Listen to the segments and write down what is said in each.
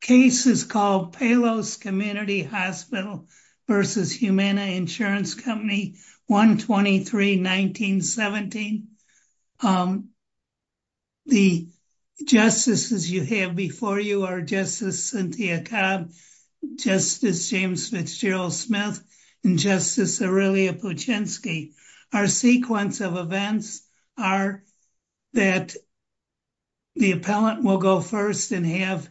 Cases called Palos Community Hospital v. Humana Insurance Company, 1-23-1917. The justices you have before you are Justice Cynthia Cobb, Justice James Fitzgerald Smith, and Justice Aurelia Puchinski. Our sequence of events are that the appellant will go first and have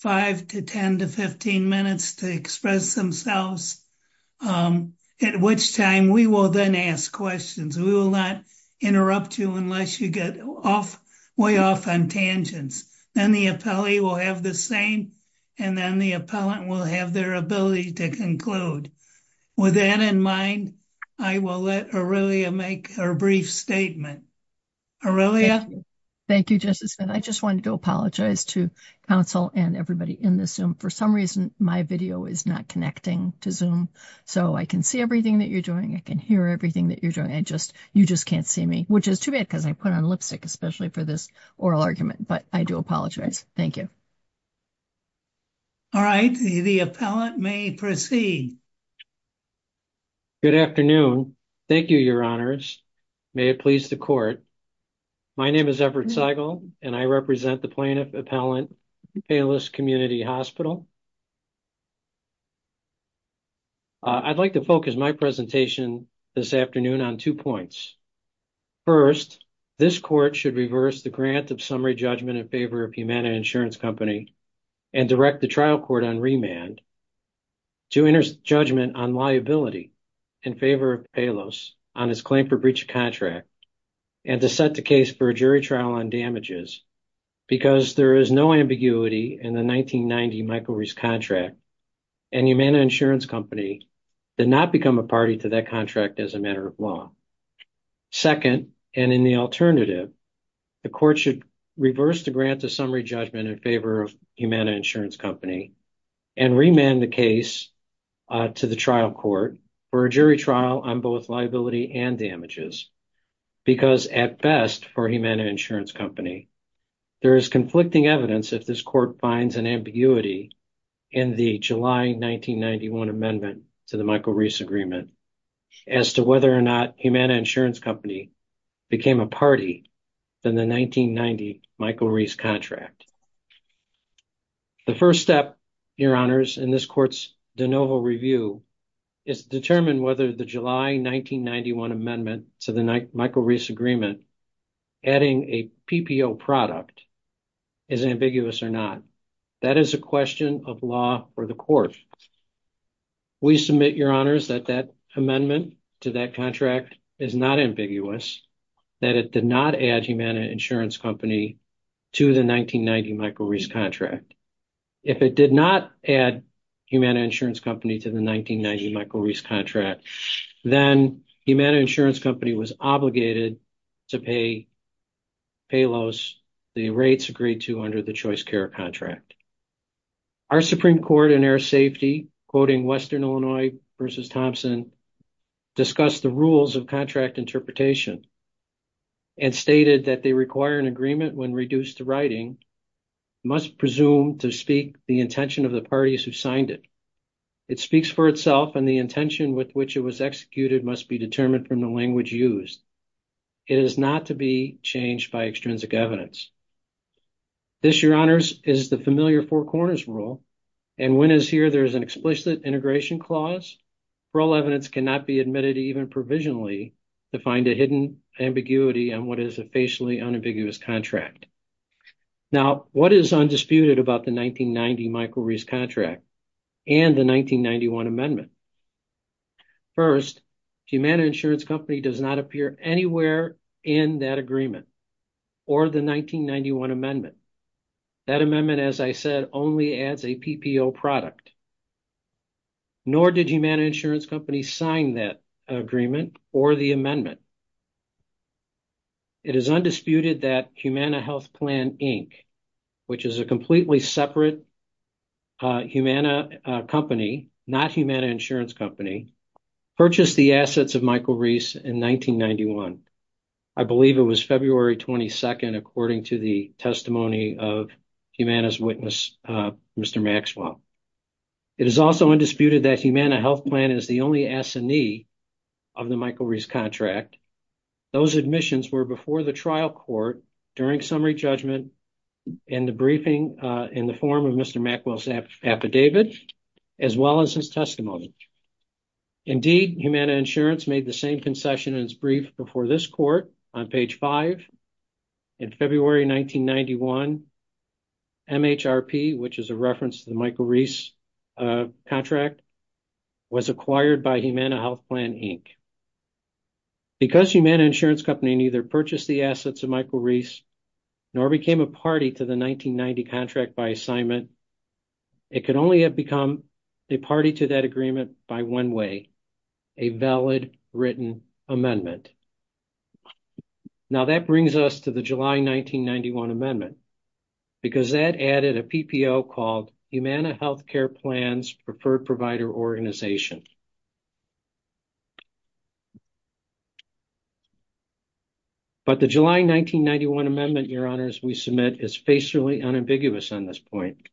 5 to 10 to 15 minutes to express themselves, at which time we will then ask questions. We will not interrupt you unless you get way off on tangents. Then the appellee will have the same and then the appellant will have their ability to conclude. With that in mind, I will let Aurelia make her brief statement. Aurelia. Thank you, Justice. I just wanted to apologize to counsel and everybody in the Zoom. For some reason, my video is not connecting to Zoom, so I can see everything that you're doing. I can hear everything that you're doing. I just, you just can't see me, which is too bad because I put on lipstick, especially for this oral argument, but I do apologize. Thank you. All right, the appellant may proceed. Good afternoon. Thank you, your honors. May it please the court. My name is Everett Seigel, and I represent the plaintiff appellant, Payless Community Hospital. I'd like to focus my presentation this afternoon on two points. First, this court should reverse the grant of summary judgment in favor of Humana Insurance Company and direct the trial court on liability in favor of Payless on his claim for breach of contract and to set the case for a jury trial on damages because there is no ambiguity in the 1990 micro-risk contract and Humana Insurance Company did not become a party to that contract as a matter of law. Second, and in the alternative, the court should reverse the grant of summary judgment in favor of Humana Insurance Company and remand the case to the trial court for a jury trial on both liability and damages because at best for Humana Insurance Company, there is conflicting evidence if this court finds an ambiguity in the July 1991 amendment to the Michael Reese agreement as to whether or not Humana Insurance Company became a party than the 1990 Michael Reese contract. The first step, your honors, in this court's de novo review is to determine whether the July 1991 amendment to the Michael Reese agreement adding a PPO product is ambiguous or not. That is a question of law for the court. We submit, your honors, that that amendment to that contract is not ambiguous, that it did not add Humana Insurance Company to the 1990 Michael Reese contract. If it did not add Humana Insurance Company to the 1990 Michael Reese contract, then Humana Insurance Company was obligated to pay Payless the rates agreed to under the choice care contract. Our Supreme Court in air safety, quoting Western Illinois versus Thompson, discussed the rules of contract interpretation and stated that they require an agreement when reduced to writing, must presume to speak the intention of the parties who signed it. It speaks for itself and the intention with which it was executed must be determined from the language used. It is not to be changed by extrinsic evidence. This, your honors, is the familiar four rule and when it's here, there's an explicit integration clause. Rule evidence cannot be admitted even provisionally to find a hidden ambiguity on what is a facially unambiguous contract. Now, what is undisputed about the 1990 Michael Reese contract and the 1991 amendment? First, Humana Insurance Company does not appear anywhere in that agreement or the 1991 amendment. That amendment, as I said, only adds a PPO product. Nor did Humana Insurance Company sign that agreement or the amendment. It is undisputed that Humana Health Plan, Inc., which is a completely separate Humana company, not Humana Insurance Company, purchased the assets of Michael Reese in 1991. I believe it was February 22nd according to the testimony of Humana's witness, Mr. Maxwell. It is also undisputed that Humana Health Plan is the only assignee of the Michael Reese contract. Those admissions were before the trial court during summary judgment and the briefing in the form of Mr. Maxwell's affidavit as well as his testimony. Indeed, Humana Insurance made the same concession in its brief before this court on page 5. In February 1991, MHRP, which is a reference to the Michael Reese contract, was acquired by Humana Health Plan, Inc. Because Humana Insurance Company neither purchased the assets of Michael Reese nor became a party to the 1990 contract by assignment, it could only have become a party to that agreement by one way, a valid written amendment. Now, that brings us to the July 1991 amendment because that added a PPO called Humana Health Care Plan's Preferred Provider Organization. But the July 1991 amendment, Your Honors, we submit is facially unambiguous on this point.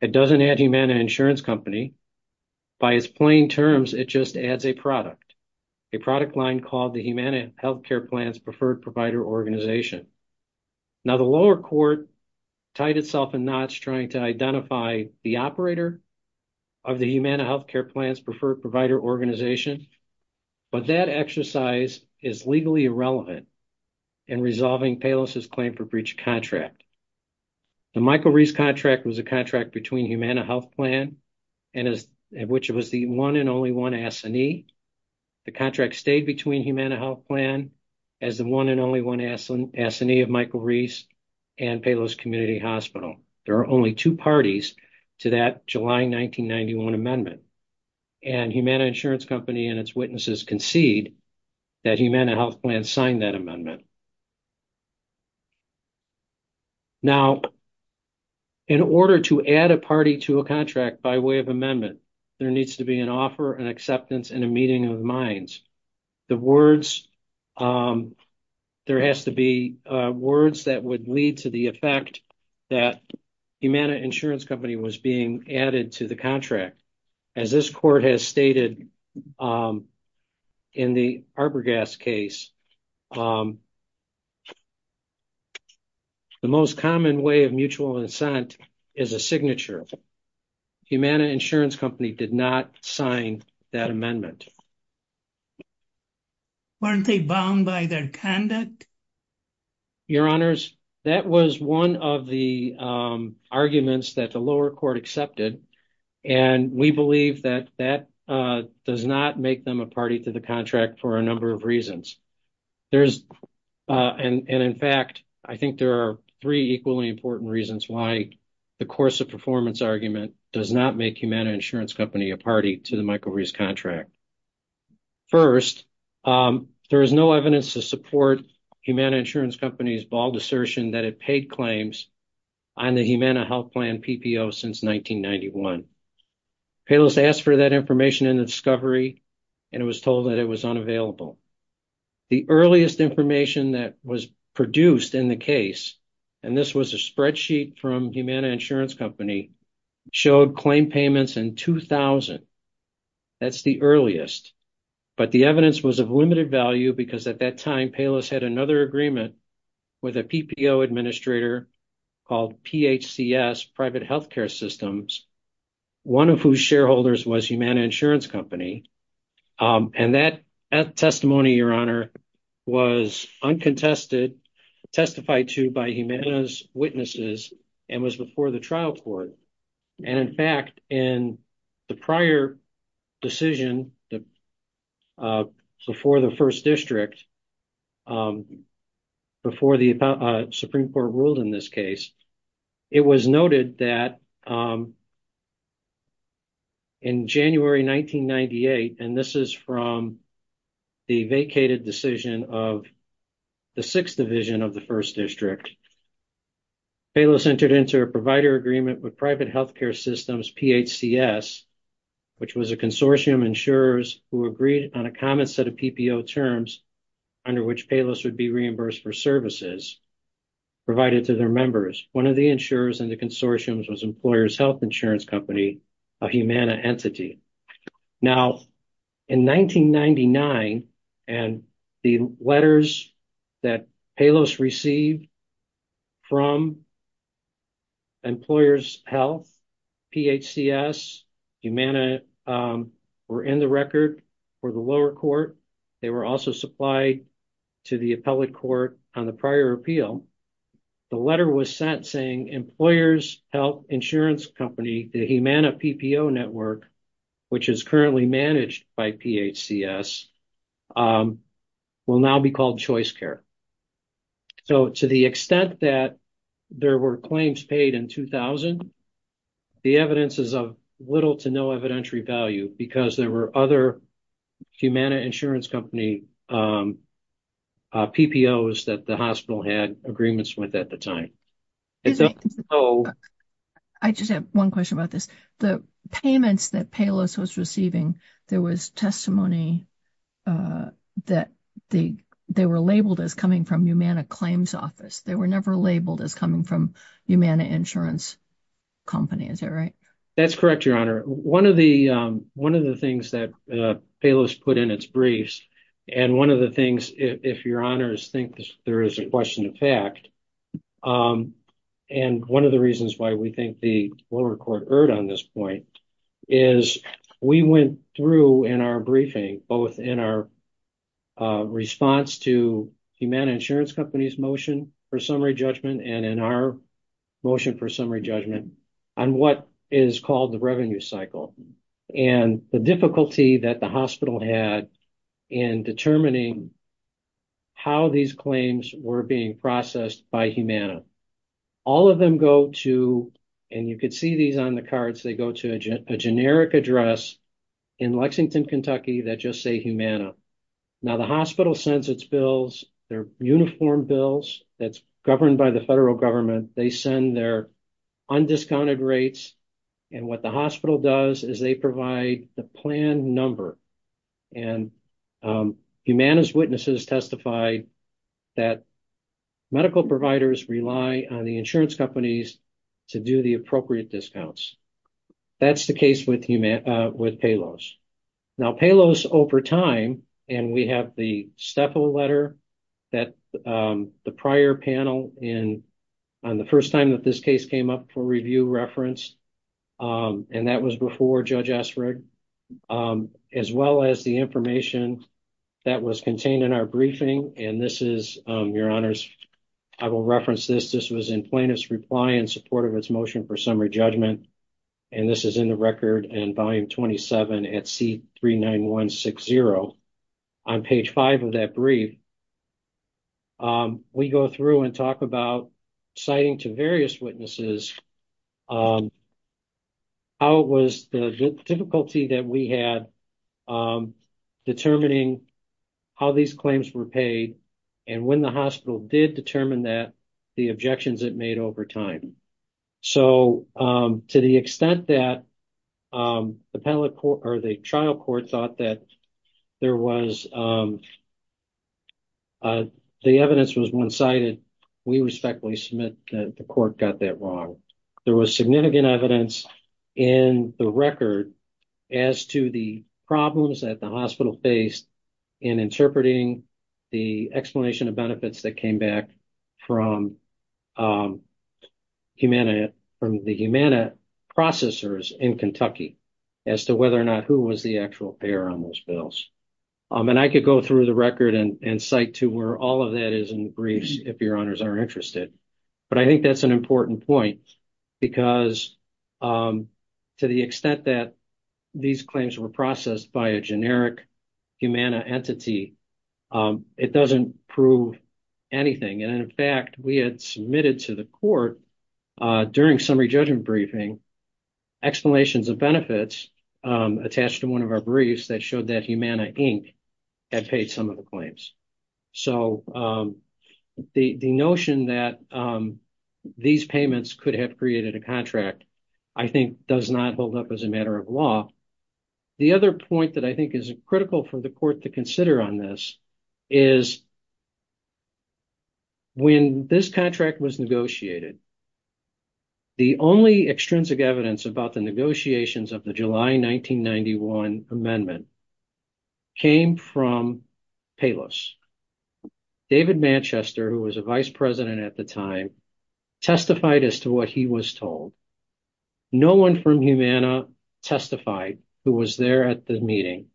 It doesn't add Humana Insurance Company. By its plain terms, it just adds a product, a product line called the Humana Health Care Plan's Preferred Provider Organization. Now, the lower court tied itself in knots trying to identify the operator of the Humana Health Care Plan's Preferred Provider Organization, but that exercise is legally irrelevant in resolving Palos' claim for breach of contract. The Michael Reese contract was a contract between Humana Health Plan, which was the one and only one assignee. The contract stayed between Humana Health Plan as the one and only one assignee of Michael Reese and Palos Community Hospital. There are only two parties to that July 1991 amendment, and Humana Insurance Company and its witnesses concede that Humana Health Plan signed that amendment. Now, in order to add a party to a contract by way of amendment, there needs to be an offer, an acceptance, and a meeting of the minds. The words, there has to be words that would lead to the effect that Humana Insurance Company was being added to the contract. As this court has stated, in the Arborgas case, the most common way of mutual incentive is a signature. Humana Insurance Company did not sign that amendment. Weren't they bound by their conduct? Your Honors, that was one of the arguments that the lower court accepted, and we believe that that does not make them a party to the contract for a number of reasons. And in fact, I think there are three equally important reasons why the course of performance argument does not make Humana Insurance Company a party to the Michael Reese contract. First, there is no evidence to support Humana Insurance Company's bald assertion that it paid $1,000,000 in insurance payments in 1991. Payless asked for that information in the discovery, and it was told that it was unavailable. The earliest information that was produced in the case, and this was a spreadsheet from Humana Insurance Company, showed claim payments in 2000. That's the earliest. But the evidence was of limited value because at that time, Payless had another agreement with a PPO administrator called PHCS, Private Healthcare Systems, one of whose shareholders was Humana Insurance Company. And that testimony, Your Honor, was uncontested, testified to by Humana's witnesses, and was before the trial court. And in fact, in the prior decision, before the first district, before the Supreme Court ruled in this case, it was noted that in January 1998, and this is from the vacated decision of the Sixth Division of the First District, Payless entered into a provider agreement with Private Healthcare Systems, PHCS, which was a consortium of insurers who agreed on a common set of PPO terms under which Payless would be reimbursed for services provided to their members. One of the insurers in the consortium was Employers Health Insurance Company, a Humana entity. Now, in 1999, and the letters that Payless received from Employers Health, PHCS, Humana were in the record for the lower court. They were also supplied to the appellate court on the prior appeal. The letter was sent saying Employers Health Insurance Company, the Humana PPO network, which is currently managed by PHCS, will now be called ChoiceCare. So, to the extent that there were claims paid in 2000, the evidence is of little to no evidentiary value because there were other Humana Insurance Company PPOs that the hospital had agreements with at the time. I just have one question about this. The payments that Payless was receiving, there was testimony that they were labeled as coming from Humana Claims Office. They were never labeled as coming from Humana Insurance Company. Is that right? That's correct, Your Honor. One of the things that Payless put in its briefs, and one of the things, if Your Honors think there is a question of fact, and one of the reasons why we think the lower court erred on this point, is we went through in our briefing, both in our response to Humana Insurance Company's motion for summary judgment and in our motion for summary judgment, on what is called the revenue cycle and the difficulty that the hospital had in determining how these claims were being processed by Humana. All of them go to, and you could see these on the cards, they go to a generic address in Lexington, Kentucky that just say Humana. Now, the hospital sends its bills. They're uniform bills that's governed by the federal government. They send their undiscounted rates. And what the hospital does is they provide the plan number. And Humana's witnesses testified that medical providers rely on the insurance companies to do the appropriate discounts. That's the case with Payless. Now, Payless over time, and we have the STEFO letter that the prior panel on the first time that this case came up for review referenced, and that was before Judge Essrig, as well as the information that was contained in our briefing. And this is, Your Honors, I will reference this. This was in plaintiff's reply in support of its motion for summary judgment. And this is in the record in volume 27 at C39160. On page five of that brief, we go through and talk about citing to various witnesses how it was the difficulty that we had determining how these claims were paid and when the hospital did determine that, the objections it made over time. So, to the extent that the trial court thought that the evidence was one-sided, we respectfully submit that the court got that wrong. There was significant evidence in the record as to the problems that the hospital faced in interpreting the explanation of benefits that from the Humana processors in Kentucky as to whether or not who was the actual payer on those bills. And I could go through the record and cite to where all of that is in the briefs if Your Honors are interested. But I think that's an important point because to the extent that these claims were processed by a generic Humana entity, it doesn't prove anything. And in fact, we had submitted to the court during summary judgment briefing explanations of benefits attached to one of our briefs that showed that Humana Inc. had paid some of the claims. So, the notion that these payments could have created a contract, I think, does not hold up as a matter of law. The other point that I think is critical for the court to consider on this is when this contract was negotiated, the only extrinsic evidence about the negotiations of the July 1991 amendment came from Payless. David Manchester, who was a vice president at the time, testified as to what he was told. No one from Humana testified who was there at the meeting.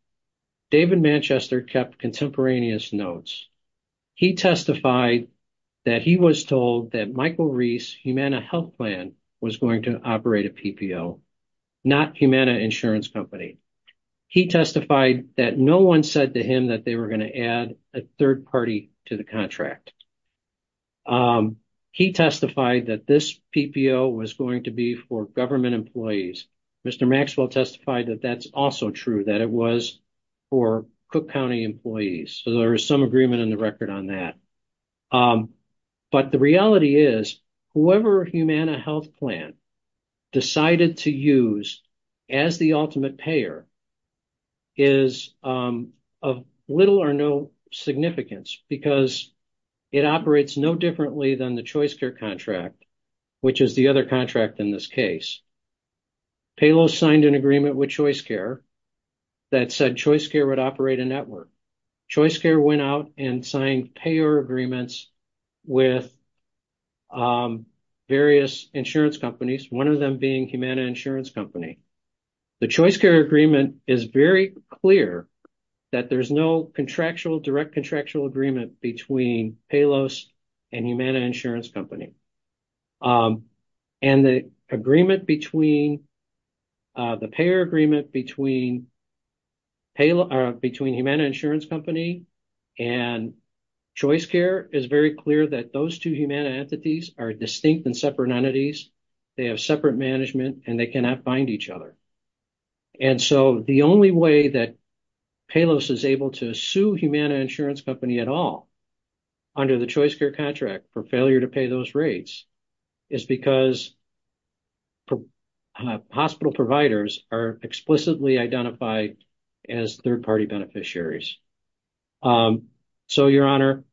David Manchester kept contemporaneous notes. He testified that he was told that Michael Reese Humana Health Plan was going to operate a PPO, not Humana Insurance Company. He testified that no one said to him that they were going to add a third party to the contract. He testified that this PPO was going to be for government employees. Mr. Maxwell testified that that's also true, that it was for Cook County employees. So, there is some agreement in the record on that. But the reality is whoever Humana Health Plan decided to use as the ultimate payer is of little or no significance because it operates no differently than the ChoiceCare contract, which is the other contract in this case. Payless signed an agreement with ChoiceCare that said ChoiceCare would operate a network. ChoiceCare went out and signed payer agreements with various insurance companies, one of them being Humana Insurance Company. The ChoiceCare agreement is very clear that there's no direct contractual agreement between Payless and Humana Insurance Company. The payer agreement between Humana Insurance Company and ChoiceCare is very clear that those two Humana entities are distinct and separate entities. They have separate management and they cannot bind each other. And so, the only way that Payless is able to sue Humana Insurance Company at all under the ChoiceCare contract for failure to pay those rates is because hospital providers are explicitly identified as third-party beneficiaries. So, Your Honor,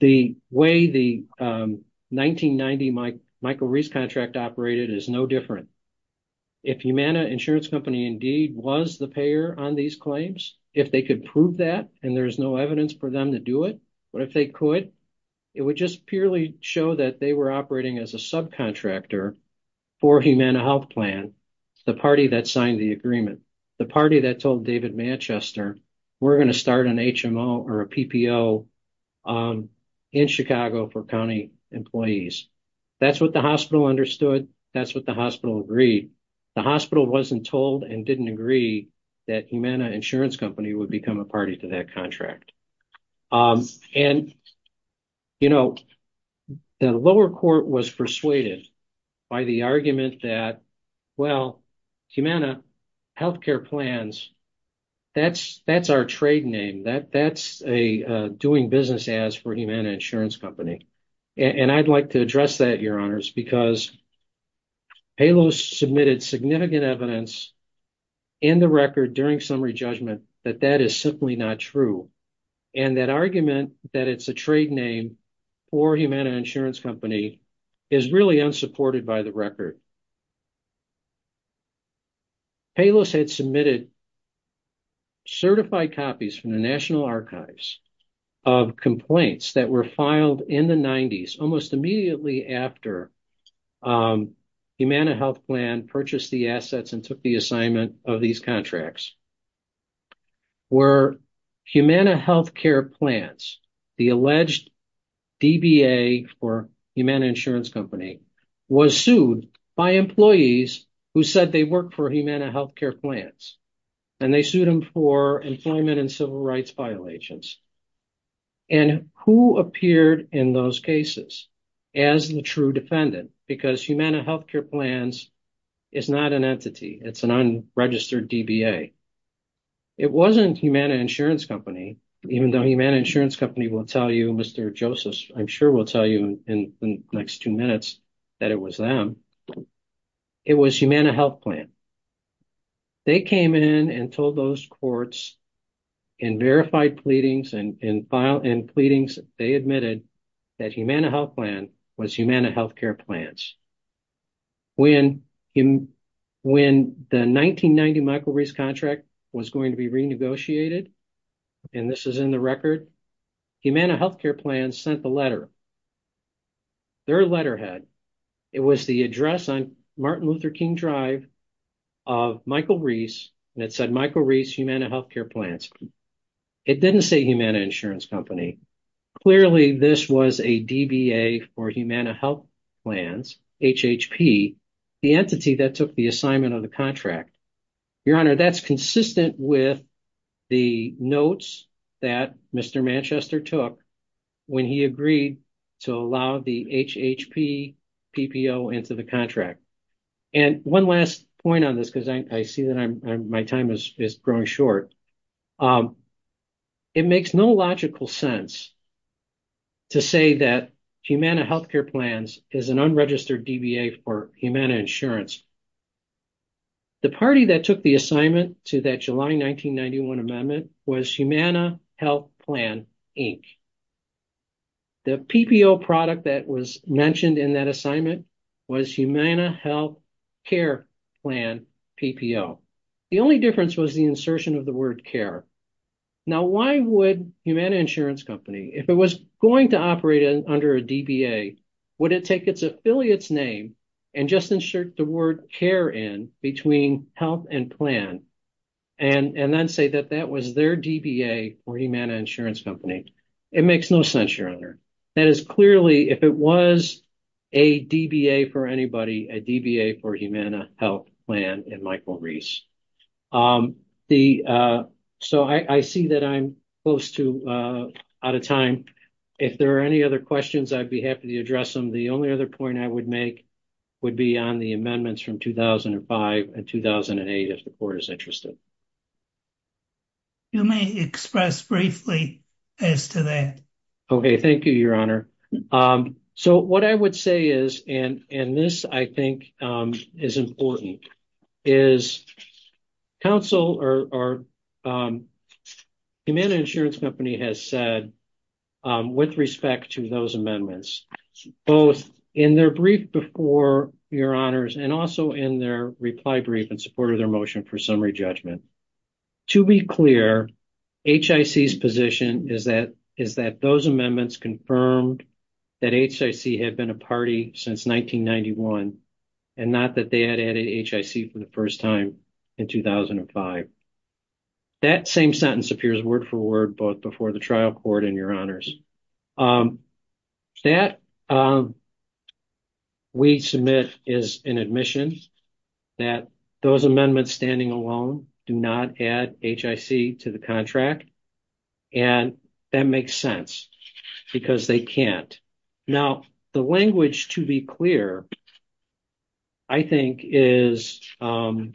the way the 1990 Michael Reese contract operated is no different. If Humana Insurance Company indeed was the payer on these claims, if they could prove that and there's no evidence for them to do it, but if they could, it would just purely show that they were operating as a subcontractor for Humana Health Plan, the party that signed the agreement, the party that told David Manchester, we're going to start an HMO or a PPO in Chicago for county employees. That's what the hospital understood. That's what the hospital agreed. The hospital wasn't told and didn't agree that Humana Insurance Company would become a party to that contract. And, you know, the lower court was persuaded by the argument that, well, Humana Health Care plans, that's our trade name. That's a doing business as for Humana Insurance Company. And I'd like to address that, Your Honors, because Payless submitted significant evidence in the record during summary judgment that that is simply not true. And that argument that it's a trade name for Humana Insurance Company is really unsupported by the record. Payless had submitted certified copies from the National Archives of complaints that were filed in the 90s, almost immediately after Humana Health Plan purchased the assets and took the assignment of these contracts, where Humana Health Care plans, the alleged DBA for Humana Company, was sued by employees who said they work for Humana Health Care plans. And they sued him for employment and civil rights violations. And who appeared in those cases as the true defendant? Because Humana Health Care plans is not an entity. It's an unregistered DBA. It wasn't Humana Insurance Company, even though Humana Insurance Company will tell you, Mr. Payless, in the next two minutes, that it was them. It was Humana Health Plan. They came in and told those courts in verified pleadings and in file and pleadings, they admitted that Humana Health Plan was Humana Health Care plans. When the 1990 micro-risk contract was going to be renegotiated, and this is in the record, Humana Health Care plans sent the letter. Their letterhead, it was the address on Martin Luther King Drive of Michael Reese. And it said, Michael Reese, Humana Health Care plans. It didn't say Humana Insurance Company. Clearly, this was a DBA for Humana Health Plans, HHP, the entity that took the assignment of the contract. Your Honor, that's consistent with the notes that Mr. Manchester took when he agreed to allow the HHP PPO into the contract. And one last point on this, because I see that my time is growing short. It makes no logical sense to say that Humana Health Care plans is an unregistered DBA for Humana Insurance. The party that took the assignment to that July 1991 amendment was Humana Health Plan, Inc. The PPO product that was mentioned in that assignment was Humana Health Care Plan PPO. The only difference was the insertion of the word care. Now, why would Humana Insurance Company, if it was going to operate under a DBA, would it take its affiliate's and just insert the word care in between health and plan and then say that that was their DBA for Humana Insurance Company? It makes no sense, Your Honor. That is clearly, if it was a DBA for anybody, a DBA for Humana Health Plan and Michael Reese. So, I see that I'm close to out of time. If there are any other questions, I'd be happy to address them. The only other point I would make would be on the amendments from 2005 and 2008, if the court is interested. You may express briefly as to that. Okay, thank you, Your Honor. So, what I would say is, and this I think is important, is Humana Insurance Company has said with respect to those amendments, both in their brief before, Your Honors, and also in their reply brief in support of their motion for summary judgment. To be clear, HIC's position is that those amendments confirmed that HIC had been a party since 1991 and not that they had added HIC for the first time in 2005. That same sentence appears word-for-word both before the trial court and Your Honors. That we submit is an admission that those amendments standing alone do not add HIC to the contract, and that makes sense because they can't. Now, the language, to be clear, I think is Humana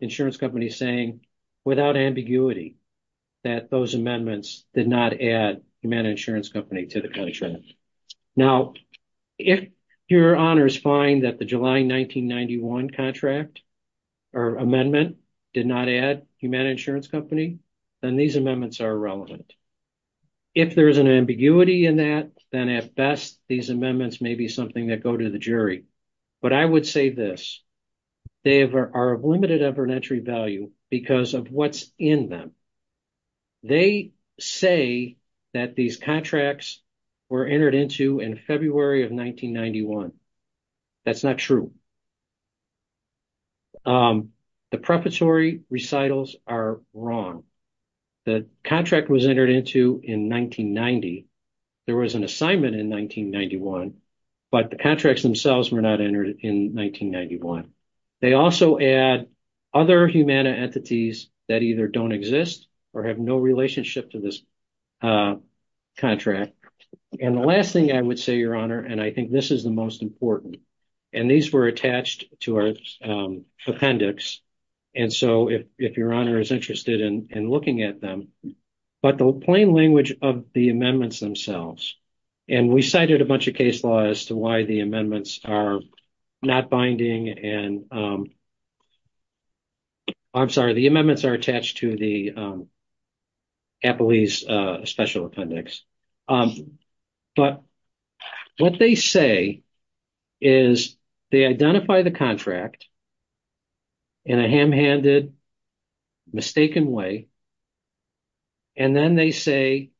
Insurance Company saying, without ambiguity, that those amendments did not add Humana Insurance Company to the contract. Now, if Your Honors find that the July 1991 contract or amendment did not add Humana Insurance Company, then these amendments are irrelevant. If there is an ambiguity in that, then at best, these amendments may be something that go to the jury. But I would say this, they are of limited evidentiary value because of what's in them. They say that these contracts were entered into in February of 1991. That's not true. The preparatory recitals are wrong. The contract was entered into in 1990. There was an assignment in 1991, but the contracts themselves were not entered in 1991. They also add other Humana entities that either don't exist or have no relationship to this contract. And the last thing I would say, Your Honor, and I think this is the most important, and these were attached to our appendix. And so if Your Honor is interested in looking at them, but the plain language of the amendments themselves, and we cited a bunch of case law as to why the amendments are not binding and I'm sorry, the amendments are attached to the CAPLI's special appendix. But what they say is they identify the contract in a ham-handed, mistaken way. And then they say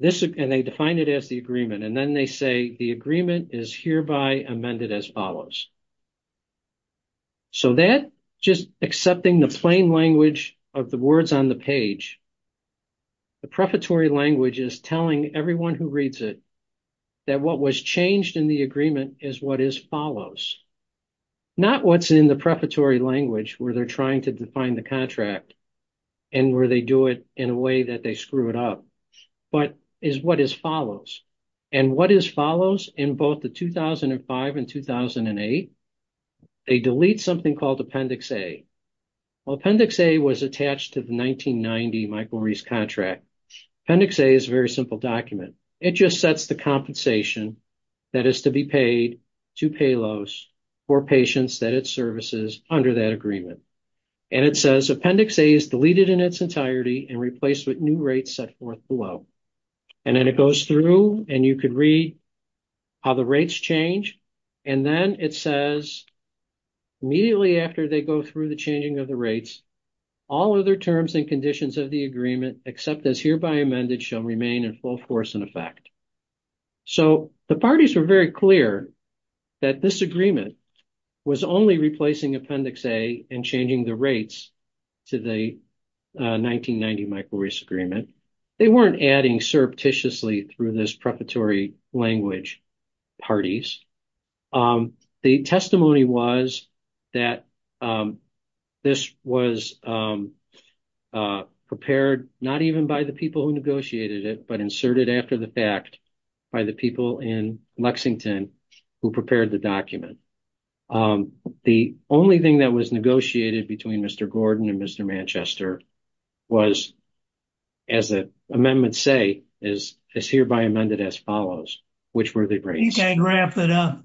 this, and they define it as the agreement. And then they say the agreement is hereby amended as follows. So that just accepting the plain language of the words on the page, the preparatory language is telling everyone who reads it that what was changed in the agreement is what is follows. Not what's in the preparatory language where they're trying to define the contract and where they do it in a way that they screw it up, but is what is follows. And what is follows in both the 2005 and 2008, they delete something called Appendix A. Well, Appendix A was attached to the 1990 Michael Reese contract. Appendix A is a very simple document. It just sets the compensation that is to be paid to Paylos for patients that it services under that agreement. And it says Appendix A is deleted in its entirety and replaced with new rates set forth below. And then it goes through and you could read how the rates change. And then it says immediately after they go through the changing of the rates, all other terms and conditions of the agreement except as hereby amended shall remain in full force and effect. So the parties were very clear that this agreement was only replacing Appendix A and changing the rates to the 1990 Michael Reese agreement. They weren't adding surreptitiously through this preparatory language parties. The testimony was that this was prepared not even by the people who negotiated it, but inserted after the fact by the people in Lexington who prepared the document. The only thing that was negotiated between Mr. Gordon and Mr. Manchester was, as the amendments say, is hereby amended as follows, which were the rates. You can't wrap that up.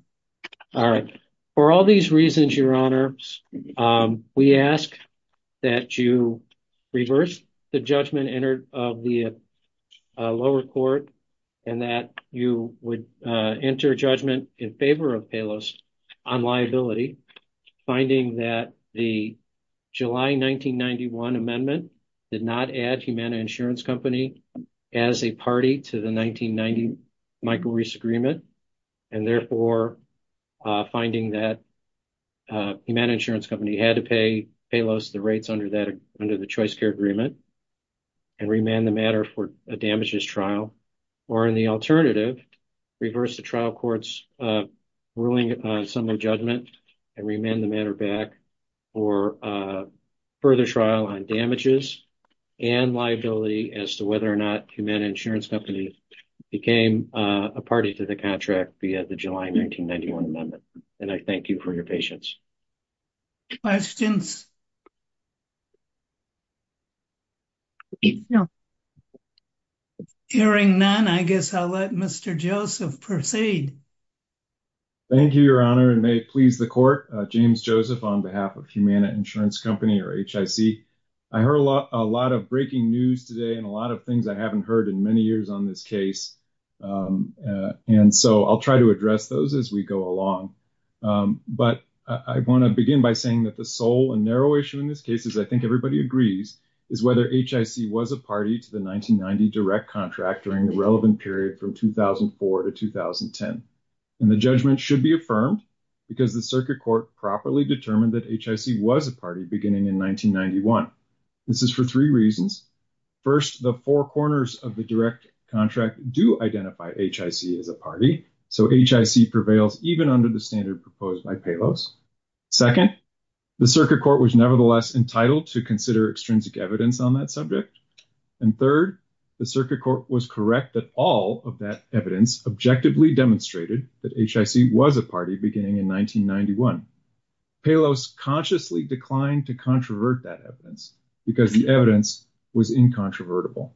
All right. For all these reasons, Your Honor, we ask that you reverse the judgment of the lower court and that you would enter judgment in favor of Paylos on liability, finding that the July 1991 amendment did not add Humana Insurance Company as a party to the 1990 Michael Reese agreement and therefore finding that Humana Insurance Company had to pay Paylos the rates under the Choice Care Agreement and remand the matter for a damages trial. Or in the alternative, reverse the trial court's ruling on summary judgment and remand the matter back for a further trial on damages and liability as to whether or not Humana Insurance Company became a party to the contract via the July 1991 amendment. And I thank you for your patience. Questions? Hearing none, I guess I'll let Mr. Joseph proceed. Thank you, Your Honor, and may it please the court. James Joseph on behalf of Humana Insurance Company or HIC. I heard a lot of breaking news today and a lot of things I haven't heard in many years on this case. And so I'll try to address those as we go along. But I want to begin by saying that the sole and narrow issue in this case, as I think everybody agrees, is whether HIC was a party to the 1990 direct contract during the relevant period from 2004 to 2010. And the judgment should be affirmed because the circuit court properly determined that HIC was a party beginning in 1991. This is for three reasons. First, the four corners of direct contract do identify HIC as a party. So HIC prevails even under the standard proposed by Palos. Second, the circuit court was nevertheless entitled to consider extrinsic evidence on that subject. And third, the circuit court was correct that all of that evidence objectively demonstrated that HIC was a party beginning in 1991. Palos consciously declined to controvert that evidence because the evidence was incontrovertible.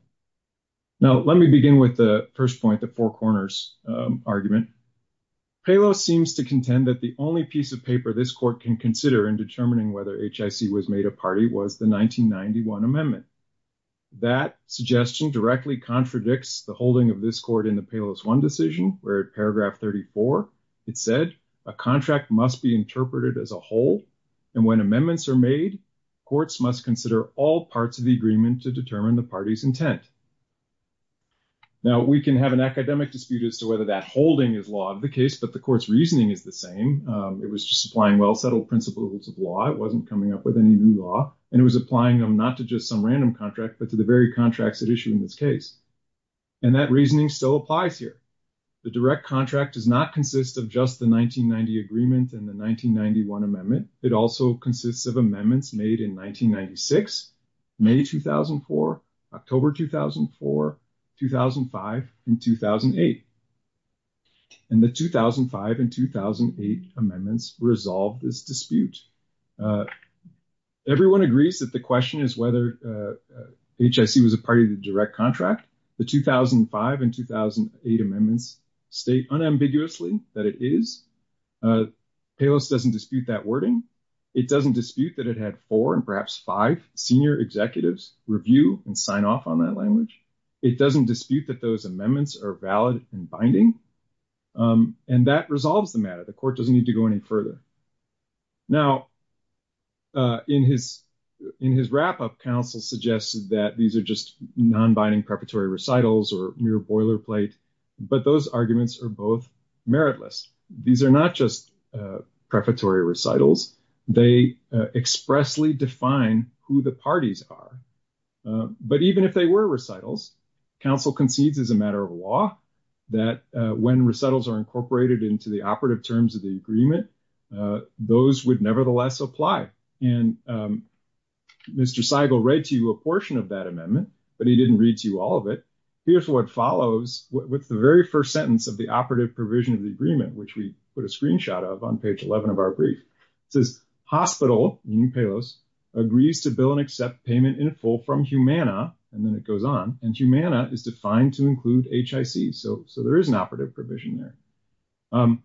Now, let me begin with the first point, the four corners argument. Palos seems to contend that the only piece of paper this court can consider in determining whether HIC was made a party was the 1991 amendment. That suggestion directly contradicts the holding of this court in the Palos 1 decision where at paragraph 34, it said, a contract must be interpreted as a whole. And when amendments are made, courts must consider all parts of the agreement to determine the party's intent. Now, we can have an academic dispute as to whether that holding is law of the case, but the court's reasoning is the same. It was just applying well-settled principles of law. It wasn't coming up with any new law. And it was applying them not to just some random contract, but to the very contracts at issue in this case. And that reasoning still applies here. The direct contract does not consist of just the 1990 agreement and the 1991 amendment. It also consists of amendments made in 1996, May, 2004, October, 2004, 2005, and 2008. And the 2005 and 2008 amendments resolved this dispute. Everyone agrees that the question is whether HIC was a party to the direct contract. The 2005 and 2008 amendments state unambiguously that it is. Palos doesn't dispute that wording. It doesn't dispute that it had four and perhaps five senior executives review and sign off on that language. It doesn't dispute that those amendments are valid and binding. And that resolves the matter. The court doesn't need to go any further. Now, in his wrap-up, counsel suggested that these are just non-binding preparatory recitals or mere boilerplate. But those arguments are both meritless. These are not just preparatory recitals. They expressly define who the parties are. But even if they were recitals, counsel concedes as a matter of law that when recitals are incorporated into the terms of the agreement, those would nevertheless apply. And Mr. Seigel read to you a portion of that amendment, but he didn't read to you all of it. Here's what follows with the very first sentence of the operative provision of the agreement, which we put a screenshot of on page 11 of our brief. It says, hospital, meaning Palos, agrees to bill and accept payment in full from Humana. And then it goes on. And Humana is defined to include HIC. So there is an operative provision there.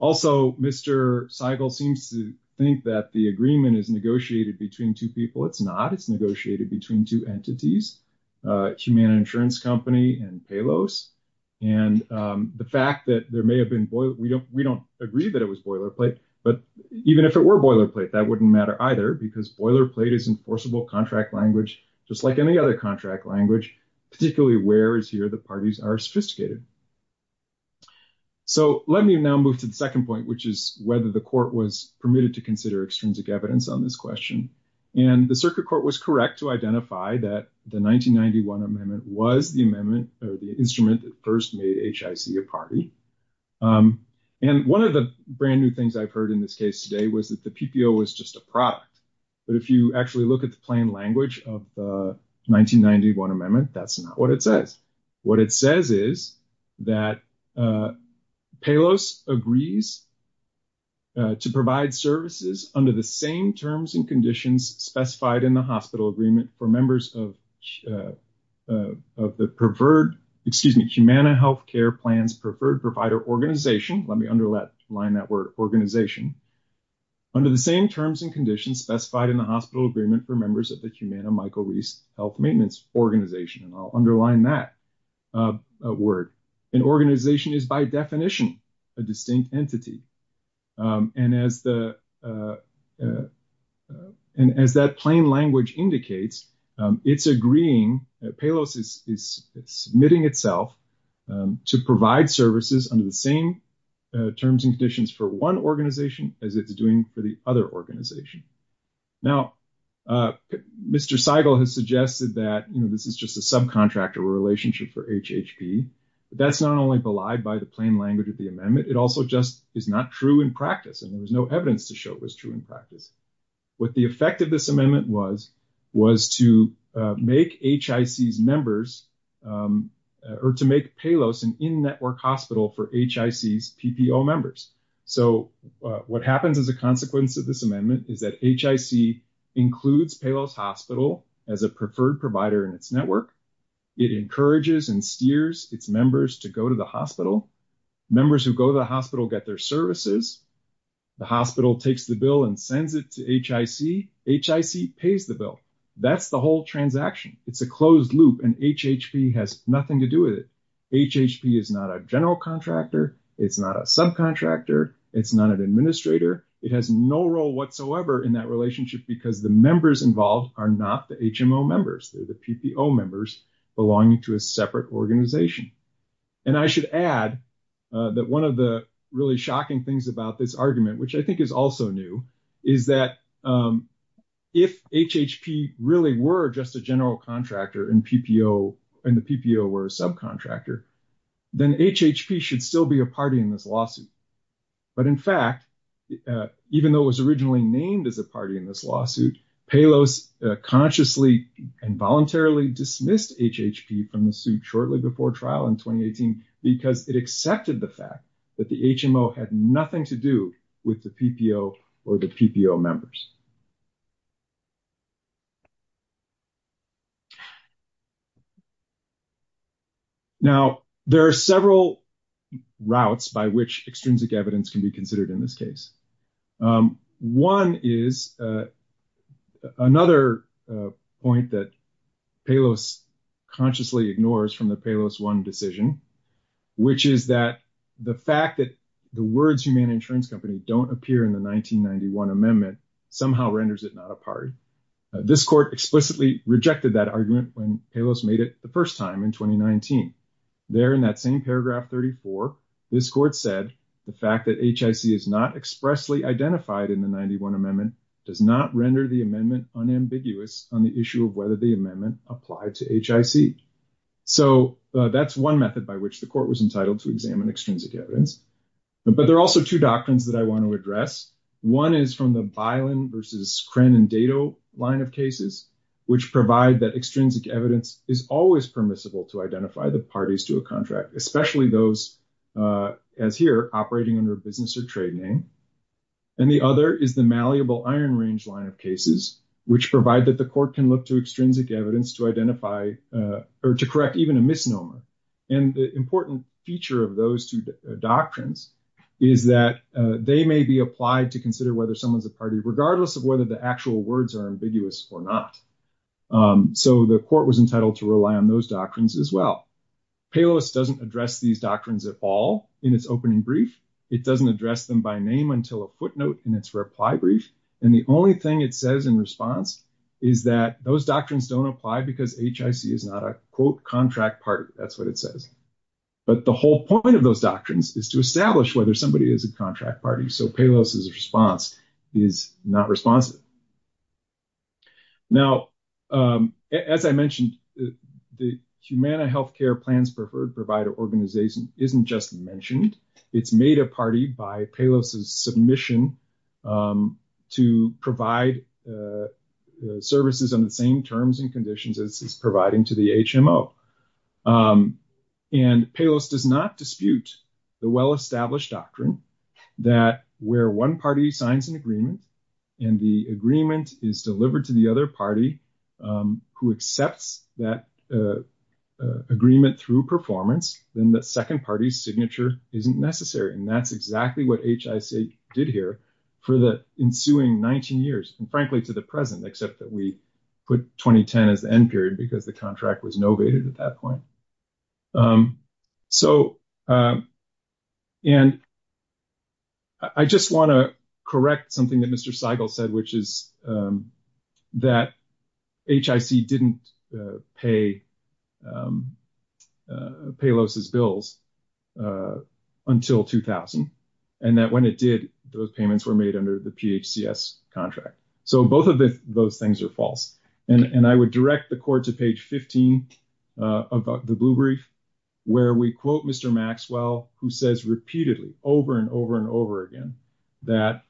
Also, Mr. Seigel seems to think that the agreement is negotiated between two people. It's not. It's negotiated between two entities, Humana Insurance Company and Palos. And the fact that there may have been boilerplate, we don't agree that it was boilerplate, but even if it were boilerplate, that wouldn't matter either because boilerplate is enforceable contract language, just like any other contract language, particularly where is here the parties are sophisticated. So let me now move to the second point, which is whether the court was permitted to consider extrinsic evidence on this question. And the circuit court was correct to identify that the 1991 amendment was the amendment or the instrument that first made HIC a party. And one of the brand new things I've heard in this case today was that the PPO was just a product. But if you actually look at the plain language of the 1991 amendment, that's not what it says. What it says is that Palos agrees to provide services under the same terms and conditions specified in the hospital agreement for members of the preferred, excuse me, Humana Health Care Plans Preferred Provider Organization. Let me underline that word organization. Under the same terms and conditions specified in the hospital agreement for members of Humana Michael Reese Health Maintenance Organization. And I'll underline that word. An organization is by definition a distinct entity. And as that plain language indicates, it's agreeing, Palos is submitting itself to provide services under the same terms and conditions for one organization as it's doing for the other organization. Now, Mr. Seigel has suggested that, you know, this is just a subcontractor relationship for HHP. That's not only belied by the plain language of the amendment. It also just is not true in practice. And there was no evidence to show it was true in practice. What the effect of this amendment was, was to make HICs members or to make Palos an in-network hospital for HICs PPO members. So, what happens as a consequence of this amendment is that HIC includes Palos Hospital as a preferred provider in its network. It encourages and steers its members to go to the hospital. Members who go to the hospital get their services. The hospital takes the bill and sends it to HIC. HIC pays the bill. That's the transaction. It's a closed loop. And HHP has nothing to do with it. HHP is not a general contractor. It's not a subcontractor. It's not an administrator. It has no role whatsoever in that relationship because the members involved are not the HMO members. They're the PPO members belonging to a separate organization. And I should add that one of the really shocking things about this argument, which I think is also new, is that if HHP really were just a general contractor and the PPO were a subcontractor, then HHP should still be a party in this lawsuit. But in fact, even though it was originally named as a party in this lawsuit, Palos consciously and voluntarily dismissed HHP from the suit shortly before trial in 2018 because it accepted the fact that the HMO had nothing to do with the PPO or the PPO members. Now, there are several routes by which extrinsic evidence can be considered in this case. One is another point that Palos consciously ignores from the Palos 1 decision, which is that the fact that the words human insurance company don't appear in the 1991 amendment somehow renders it not a party. This court explicitly rejected that argument when Palos made it the first time in 2019. There in that same paragraph 34, this court said, the fact that HIC is not expressly identified in the 91 amendment does not render the amendment unambiguous on the issue of whether the amendment applied to HIC. So that's one method by which the court was entitled to examine extrinsic evidence. But there are also two doctrines that I want to address. One is from the Bilen versus Crenn and Dato line of cases, which provide that extrinsic evidence is always permissible to identify the parties to a contract, especially those as here operating under a business or trade name. And the other is the malleable iron range line of which provide that the court can look to extrinsic evidence to identify or to correct even a misnomer. And the important feature of those two doctrines is that they may be applied to consider whether someone's a party, regardless of whether the actual words are ambiguous or not. So the court was entitled to rely on those doctrines as well. Palos doesn't address these doctrines at all in its opening brief. It doesn't address them by name until a footnote in its reply brief. And the only thing it says in response is that those doctrines don't apply because HIC is not a quote contract party. That's what it says. But the whole point of those doctrines is to establish whether somebody is a contract party. So Palos' response is not responsive. Now, as I mentioned, the Humana Healthcare Plans Preferred Provider Organization isn't just mentioned. It's made a party by Palos' submission to provide services on the same terms and conditions as it's providing to the HMO. And Palos does not dispute the well-established doctrine that where one party signs an agreement and the agreement is delivered to the other party who accepts that agreement through performance, then the second party's signature isn't necessary. And that's exactly what HIC did here for the ensuing 19 years, and frankly, to the present, except that we put 2010 as the end period because the contract was novated at that point. I just want to correct something that Mr. Seigel said, which is that HIC didn't pay Palos' bills until 2000, and that when it did, those payments were made under the PHCS contract. So both of those things are false. And I would direct the court to page 15 of the Blue Brief, where we quote Mr. Maxwell, who says repeatedly over and over and over again that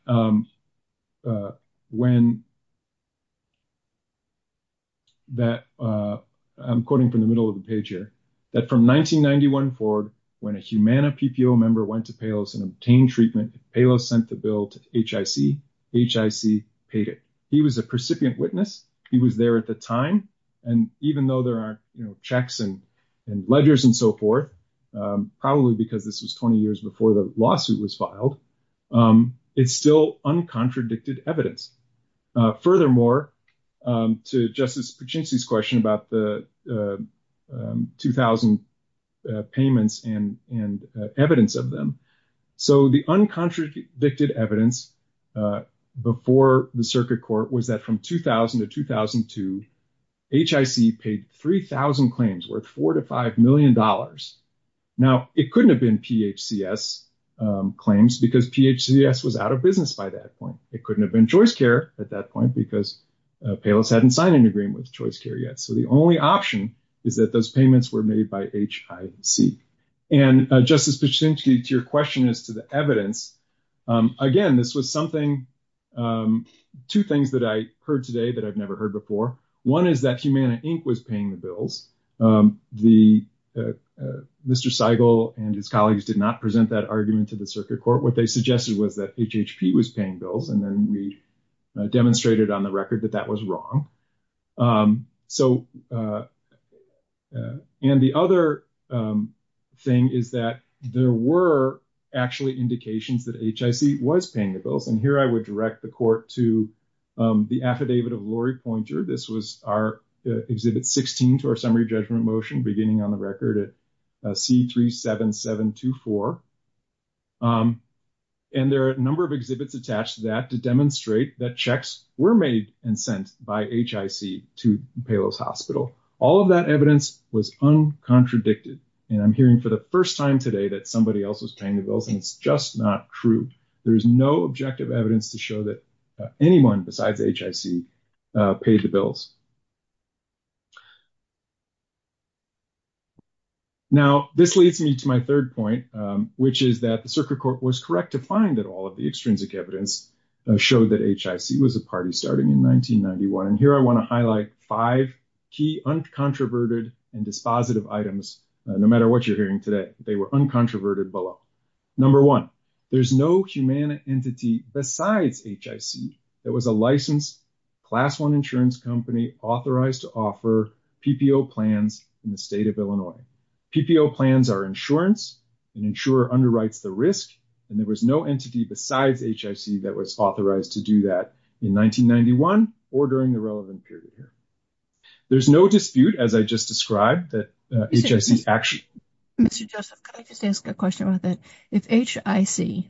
when that, I'm quoting from the middle of the page here, that from 1991 forward, when a Humana PPO member went to Palos and obtained treatment, Palos sent the bill to HIC, HIC paid it. He was a precipient witness. He was there at the time. And even though there are checks and ledgers and so forth, probably because this was 20 years before the lawsuit was filed, it's still uncontradicted evidence. Furthermore, to Justice Piccinci's question about the 2000 payments and evidence of them, so the uncontradicted evidence before the circuit was that from 2000 to 2002, HIC paid 3,000 claims worth $4 to $5 million. Now, it couldn't have been PHCS claims because PHCS was out of business by that point. It couldn't have been ChoiceCare at that point because Palos hadn't signed an agreement with ChoiceCare yet. So the only option is that those payments were made by HIC. And Justice Piccinci, to your question as to the evidence, again, this was something, two things that I heard today that I've never heard before. One is that Humana, Inc. was paying the bills. Mr. Seigel and his colleagues did not present that argument to the circuit court. What they suggested was that HHP was paying bills, and then we demonstrated on the record that that was wrong. And the other thing is that there were actually indications that HIC was paying the bills. And here I would direct the court to the affidavit of Lori Pointer. This was our Exhibit 16 to our Summary Judgment Motion, beginning on the record at C37724. And there are a number of exhibits attached to that to demonstrate that checks were made and sent by HIC to Palos Hospital. All of that evidence was uncontradicted. And I'm hearing for the first time today that somebody else was paying the bills, and it's just not true. There is no objective evidence to show that anyone besides HIC paid the bills. Now, this leads me to my third point, which is that the circuit court was correct to find that all of the extrinsic evidence showed that HIC was a party starting in 1991. And here I want to highlight five key uncontroverted and dispositive items. No matter what you're hearing today, they were uncontroverted below. Number one, there's no human entity besides HIC that was a licensed Class I insurance company authorized to offer PPO plans in the state of Illinois. PPO plans are insurance. An insurer underwrites the risk, and there was no entity besides HIC that was authorized to do that in 1991 or during the relevant period here. There's no dispute, as I just described, that HIC actually- Mary Gamba, Ph.D.: Mr. Joseph, can I just ask a question about that? If HIC,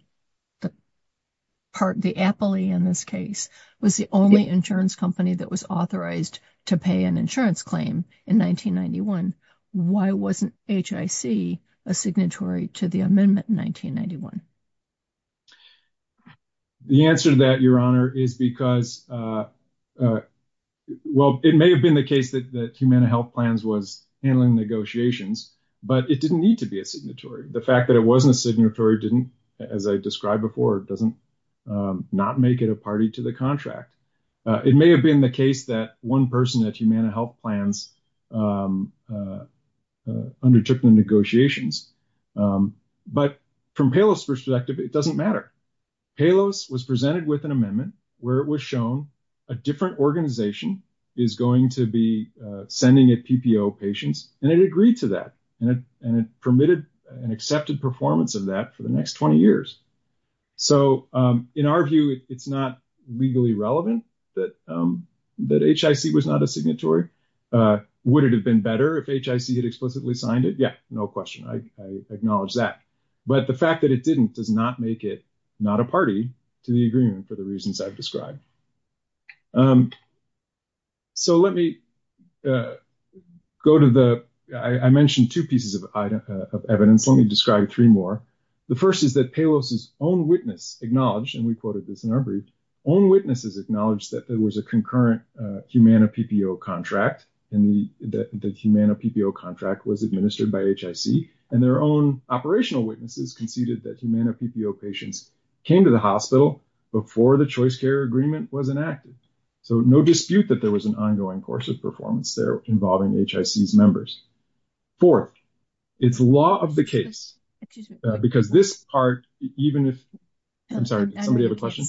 the appellee in this case, was the only insurance company that was authorized to pay an insurance claim in 1991, why wasn't HIC a signatory to the amendment in 1991? Dr. Joseph Josephson The answer to that, Your Honor, is because, well, it may have been the case that HHP was handling negotiations, but it didn't need to be a signatory. The fact that it wasn't a signatory didn't, as I described before, it doesn't not make it a party to the contract. It may have been the case that one person at Humana Health Plans undertook the negotiations, but from Palos' perspective, it doesn't matter. Palos was presented with an amendment where it was shown a different organization is going to be sending it PPO patients, and it agreed to that, and it permitted an accepted performance of that for the next 20 years. So, in our view, it's not legally relevant that HIC was not a signatory. Would it have been better if HIC had explicitly signed it? Yeah, no question. I acknowledge that. But the fact that it didn't does not make it not a party to the agreement for the reasons I've described. So, let me go to the, I mentioned two pieces of evidence. Let me describe three more. The first is that Palos' own witness acknowledged, and we quoted this in our brief, own witnesses acknowledged that there was a concurrent Humana PPO contract, and the Humana PPO contract was administered by HIC, and their own operational witnesses conceded that Humana PPO patients came to the hospital before the choice care agreement was enacted. So, no dispute that there was an ongoing course of performance there involving HIC's members. Fourth, it's law of the case because this part even if, I'm sorry, did somebody have a question?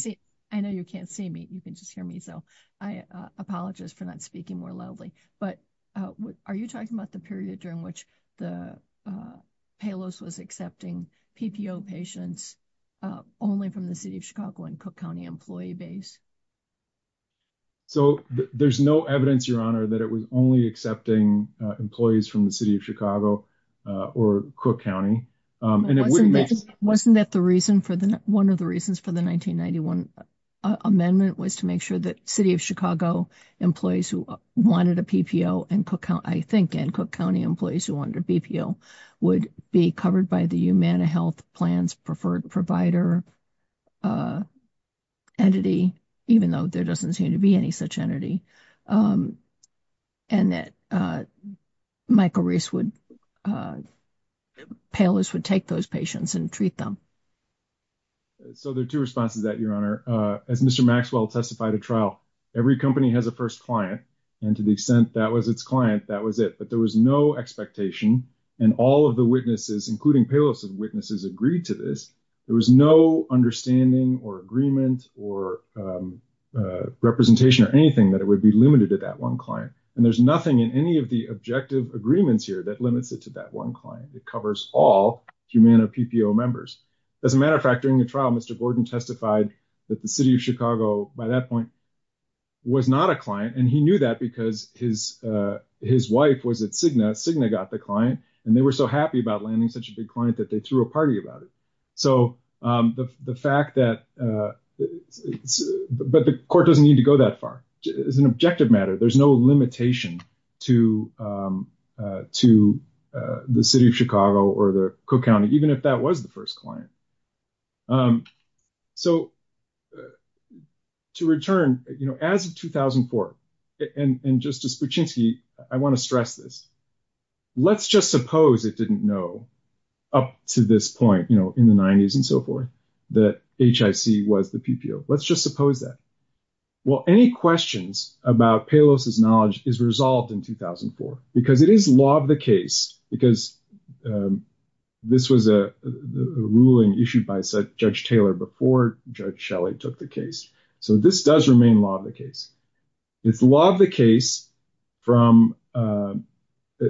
I know you can't see me. You can just hear me. So, I apologize for not speaking more loudly. But are you talking about the period during which the Palos was accepting PPO patients only from the City of Chicago and Cook County employee base? So, there's no evidence, Your Honor, that it was only accepting employees from the City of Chicago or Cook County. And it wasn't that the reason for the, one of the reasons for the 1991 amendment was to make sure that City of Chicago employees who wanted a PPO and Cook County, I think, and Cook County employees who wanted a PPO would be covered by the Humana Health Plan's preferred provider entity, even though there doesn't seem to be any such entity, and that Michael Reese would, Palos would take those patients and treat them. So, there are two responses to that, Your Honor. As Mr. Maxwell testified at trial, every company has a first client. And to the extent that was its client, that was it. But there was no expectation. And all of the witnesses, including Palos's witnesses, agreed to this. There was no understanding or agreement or representation or anything that it would be limited to that one client. And there's nothing in any of the objective agreements here that limits it to that one client. It covers all Humana PPO members. As a matter of fact, during the trial, Mr. Gordon testified that the City of Chicago, by that point, was not a client. And he knew that because his wife was at Cigna. Cigna got the client. And they were so happy about landing such a big client that they threw a party about it. But the court doesn't need to go that far. It's an objective matter. There's no limitation to the City of Chicago or the Cook County, even if that was the first client. So, to return, as of 2004, and Justice Buczynski, I want to stress this. Let's just suppose it was the PPO. Let's just suppose that. Well, any questions about Palos's knowledge is resolved in 2004, because it is law of the case. Because this was a ruling issued by Judge Taylor before Judge Shelley took the case. So, this does remain law of the case. It's law of the case from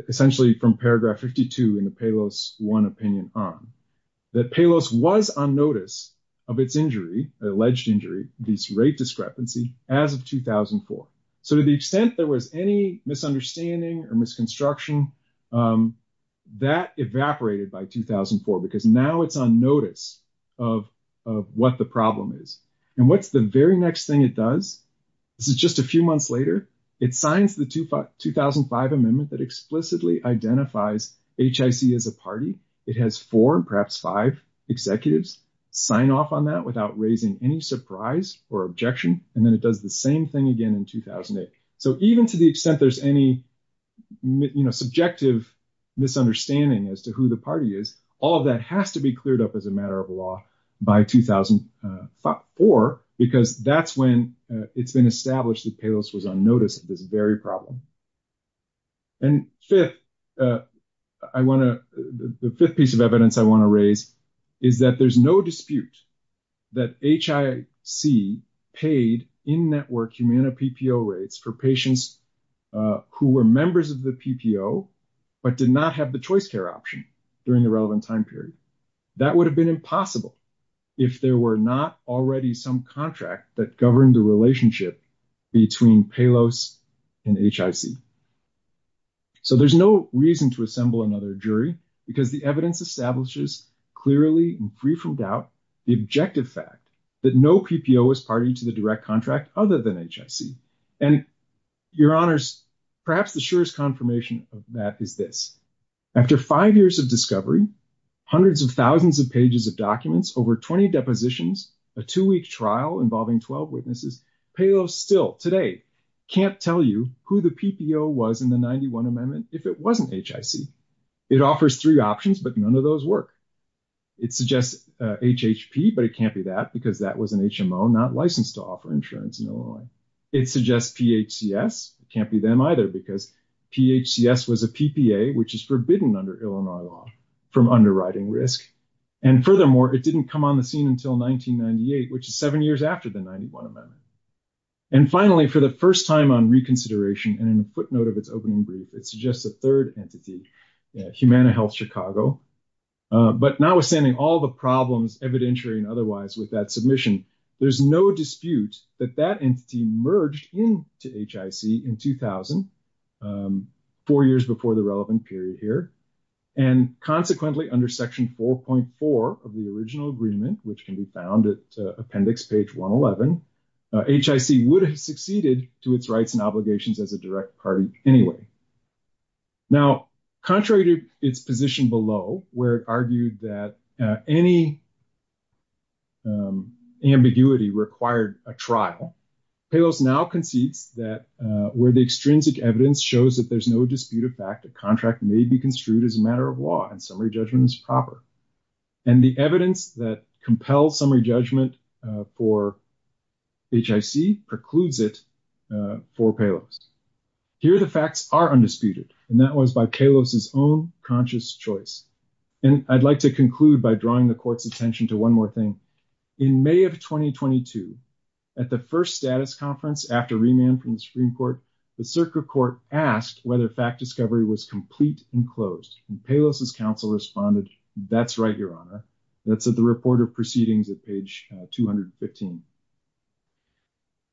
essentially from paragraph 52 in the Palos 1 opinion on that Palos was on notice of its injury, alleged injury, this rate discrepancy, as of 2004. So, to the extent there was any misunderstanding or misconstruction, that evaporated by 2004, because now it's on notice of what the problem is. And what's the very next thing it does? This is just a few months later. It signs the 2005 amendment that explicitly identifies HIC as a party. It has four, perhaps five executives sign off on that without raising any surprise or objection. And then it does the same thing again in 2008. So, even to the extent there's any subjective misunderstanding as to who the party is, all of that has to be cleared up as a matter of law by 2004, because that's when it's been established that Palos was on notice of this very problem. And fifth, I want to, the fifth piece of evidence I want to raise is that there's no dispute that HIC paid in-network humana PPO rates for patients who were members of the PPO, but did not have the choice care option during the relevant time period. That would have been possible if there were not already some contract that governed the relationship between Palos and HIC. So, there's no reason to assemble another jury because the evidence establishes clearly and free from doubt, the objective fact that no PPO was party to the direct contract other than HIC. And your honors, perhaps the surest confirmation of that is this. After five years of discovery, hundreds of thousands of pages of documents, over 20 depositions, a two-week trial involving 12 witnesses, Palos still today can't tell you who the PPO was in the 91 amendment if it wasn't HIC. It offers three options, but none of those work. It suggests HHP, but it can't be that because that was an HMO not licensed to offer insurance in Illinois. It suggests PHCS. It can't be them because PHCS was a PPA, which is forbidden under Illinois law from underwriting risk. And furthermore, it didn't come on the scene until 1998, which is seven years after the 91 amendment. And finally, for the first time on reconsideration and in a footnote of its opening brief, it suggests a third entity, Humana Health Chicago. But notwithstanding all the problems evidentiary and otherwise with that submission, there's no dispute that that entity merged into HIC in 2000 four years before the relevant period here. And consequently under section 4.4 of the original agreement, which can be found at appendix page 111, HIC would have succeeded to its rights and obligations as a direct party anyway. Now, contrary to its position below where it argued that any ambiguity required a trial, Palos now concedes that where the extrinsic evidence shows that there's no dispute of fact, a contract may be construed as a matter of law and summary judgment is proper. And the evidence that compels summary judgment for HIC precludes it for Palos. Here, the facts are undisputed, and that was by Palos' own conscious choice. And I'd like to one more thing. In May of 2022, at the first status conference after remand from the Supreme Court, the circuit court asked whether fact discovery was complete and closed. And Palos' counsel responded, that's right, Your Honor. That's at the report of proceedings at page 215.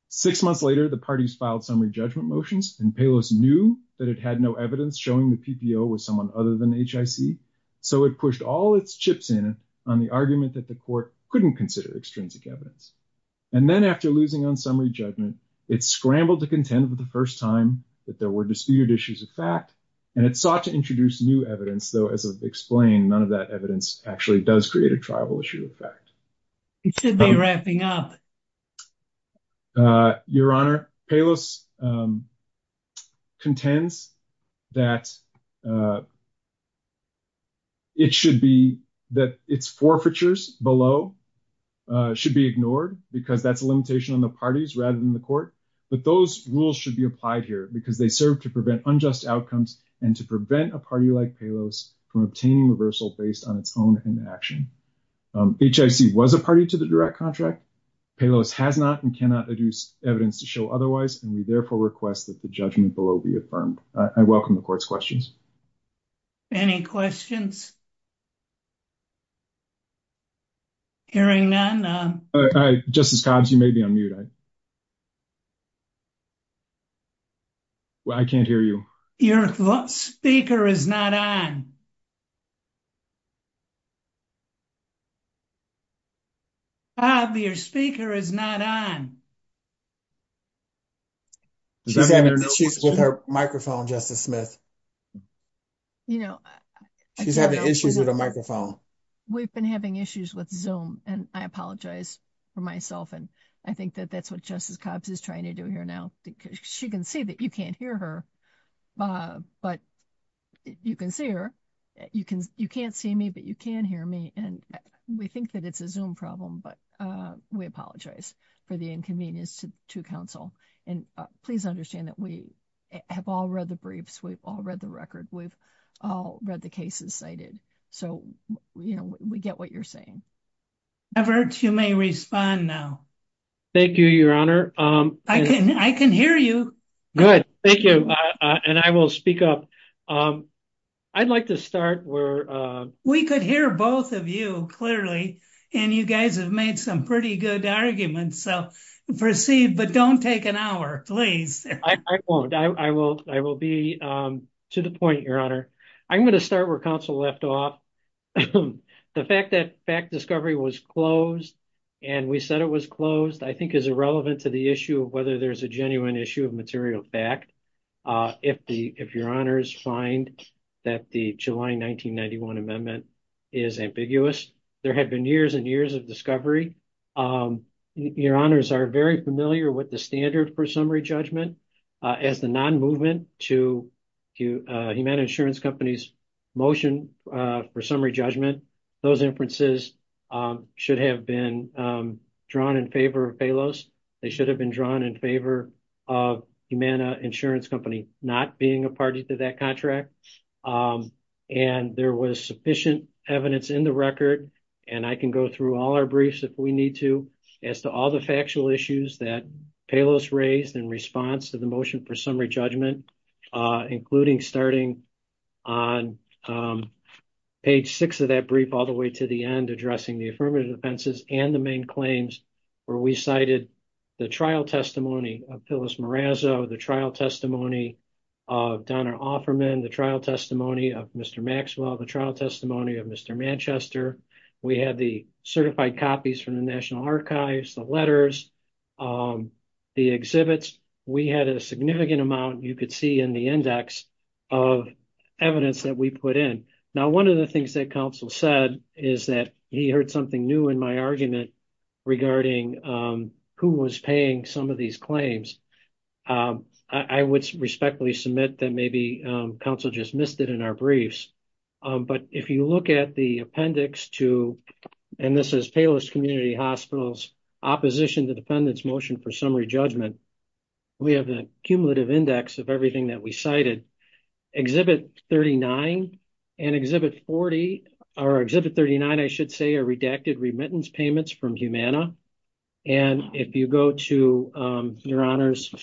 Six months later, the parties filed summary judgment motions and Palos knew that it had no evidence showing the PPO was someone other than HIC. So it pushed all its chips in on the court's argument that the court couldn't consider extrinsic evidence. And then after losing on summary judgment, it scrambled to contend for the first time that there were disputed issues of fact, and it sought to introduce new evidence, though as I've explained, none of that evidence actually does create a triable issue of fact. It should be wrapping up. Your Honor, Palos contends that it should be that its forfeitures below should be ignored because that's a limitation on the parties rather than the court. But those rules should be applied here because they serve to prevent unjust outcomes and to prevent a party like Palos from obtaining reversal based on its own inaction. HIC was a party to the direct contract. Palos has not and cannot adduce evidence to show otherwise, and we therefore request that the judgment below be affirmed. I welcome the court's questions. Any questions? Hearing none. Justice Cobbs, you may be on mute. I can't hear you. Your speaker is not on. Bob, your speaker is not on. She's having issues with her microphone, Justice Smith. You know, she's having issues with a microphone. We've been having issues with Zoom, and I apologize for myself. And I think that that's what Justice Cobbs is trying to do here now, because she can see that you can't hear her, but you can see her. You can't see me, but you can hear me. And we think that it's a Zoom problem, but we apologize for the inconvenience to counsel. And please understand that we have all read the briefs. We've all read the record. We've all read the cases cited. So, you know, we get what you're saying. Everett, you may respond now. Thank you, Your Honor. I can hear you. Good. Thank you. And I will speak up. I'd like to start where... We could hear both of you, clearly, and you guys have made some pretty good arguments. So, proceed, but don't take an hour, please. I won't. I will be to the point, Your Honor. I'm going to start where counsel left off. The fact that fact discovery was closed, and we said it was closed, I think is irrelevant to the issue of whether there's a genuine issue of material fact. If Your Honors find that the July 1991 amendment is ambiguous, there had been years and years of discovery. Your Honors are very familiar with the standard for summary judgment as the non-movement to Humana Insurance Company's motion for summary judgment. Those inferences should have been drawn in favor of Palos. They should have been drawn in favor of Humana Insurance Company not being a party to that contract. And there was sufficient evidence in the record, and I can go through all our briefs if we need to, as to all the factual issues that Palos raised in response to the motion for summary judgment, including starting on page six of that brief, all the way to the end, addressing the affirmative offenses and the main claims where we cited the trial testimony of Phyllis Marazzo, the trial testimony of Donna Offerman, the trial testimony of Mr. Maxwell, the trial testimony of Mr. Manchester. We have the certified copies from the National Archives, the letters, the exhibits. We had a significant amount, you could see in the index, of evidence that we put in. Now, one of the things that counsel said is that he heard something new in my argument regarding who was paying some of these claims. I would respectfully submit that maybe counsel just missed it in our briefs. But if you look at the appendix to, and this is Palos Community Hospital's opposition to the defendant's motion for summary judgment, we have a cumulative index of everything that we cited. Exhibit 39 and exhibit 40, or exhibit 39, I should say, are redacted remittance payments from Humana. And if you go to, your honors,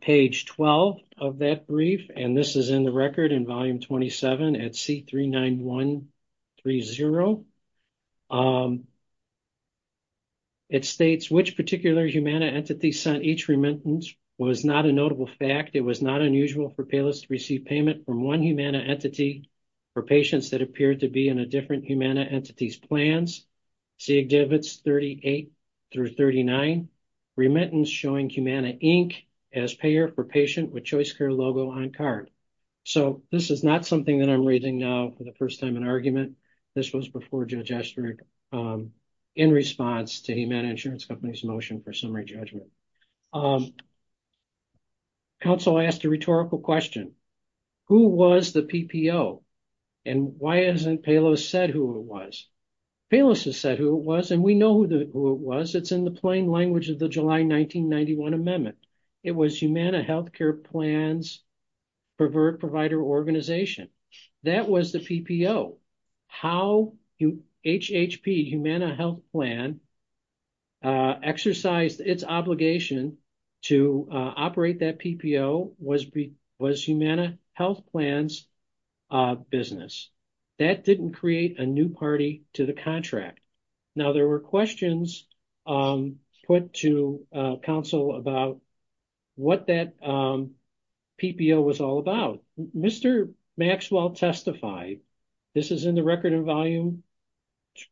page 12 of that brief, and this is in the record in volume 27 at C39130, it states, which particular Humana entity sent each remittance was not a notable fact. It was not unusual for Palos to receive payment from one Humana entity for patients that appeared to be in a different Humana entity's plans. See exhibits 38 through 39, remittance showing Humana Inc. as payer for patient with a Humana insurance company. We have a cumulative index of everything that we cited in our briefs. And if you look at the appendix to, and this is in the record in volume 27 at C39130, we have a cumulative index of everything that we cited for a patient that appeared to be in a different Humana entity for patients that appeared to be in a different Humana entity. And if you go to exhibit pervert provider organization, that was the PPO. How HHP, Humana Health Plan, exercised its obligation to operate that PPO was Humana Health Plan's business. That didn't create a new party to the contract. Now there were questions put to council about what that PPO was all about. Mr. Maxwell testified. This is in the record in volume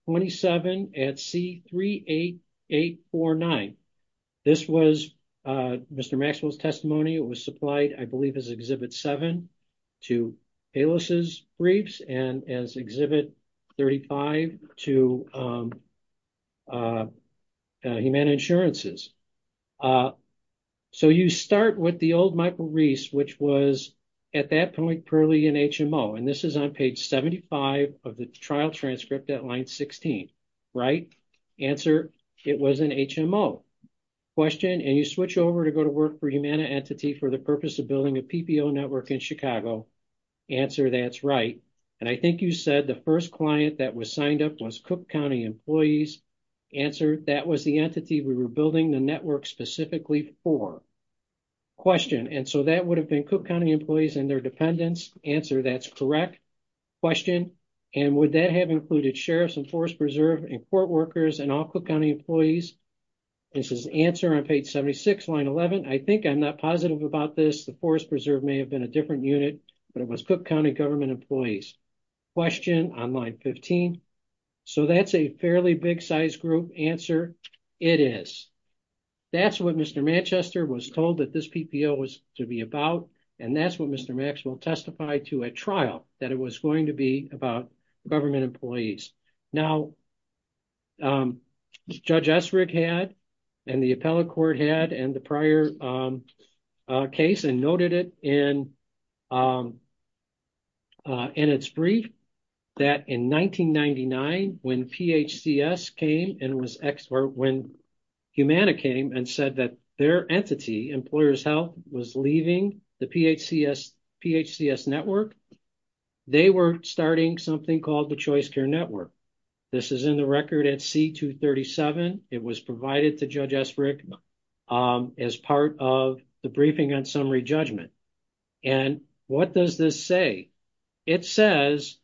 27 at C38849. This was Mr. Maxwell's testimony. It was supplied, I believe, as exhibit seven to ALIS's briefs and as exhibit 35 to Humana insurances. So you start with the old Michael Reese, which was at that point purely an HMO. And this is on page 75 of the trial transcript at line 16, right? Answer, it was an HMO question. And you switch over to go to work for Humana entity for the purpose of building a PPO network in Chicago. Answer, that's right. And I think you said the first client that was signed up was Cook County employees. Answer, that was the entity we were building the network specifically for. Question, and so that would have been Cook County employees and their dependents? Answer, that's correct. Question, and would that have included sheriffs and forest preserve and court workers and all Cook County employees? This is answer on page 76, line 11. I think I'm not positive about this. The forest preserve may have been a different unit, but it was Cook County government employees. Question on line 15. So that's a fairly big size group answer. It is. That's what Mr. Manchester was told that this PPO was to be about. And that's what Mr. Maxwell testified to at trial, that it was going to be about government employees. Now, Judge Essrig had, and the appellate court had, and the prior case and noted it in its brief that in 1999, when PHCS came and was, or when Humana came and said that their entity, Employers Health, was leaving the PHCS network, they were starting something called the Choice Care Network. This is in the record at C-237. It was provided to Judge Essrig as part of the briefing on summary judgment. And what does this say? It says,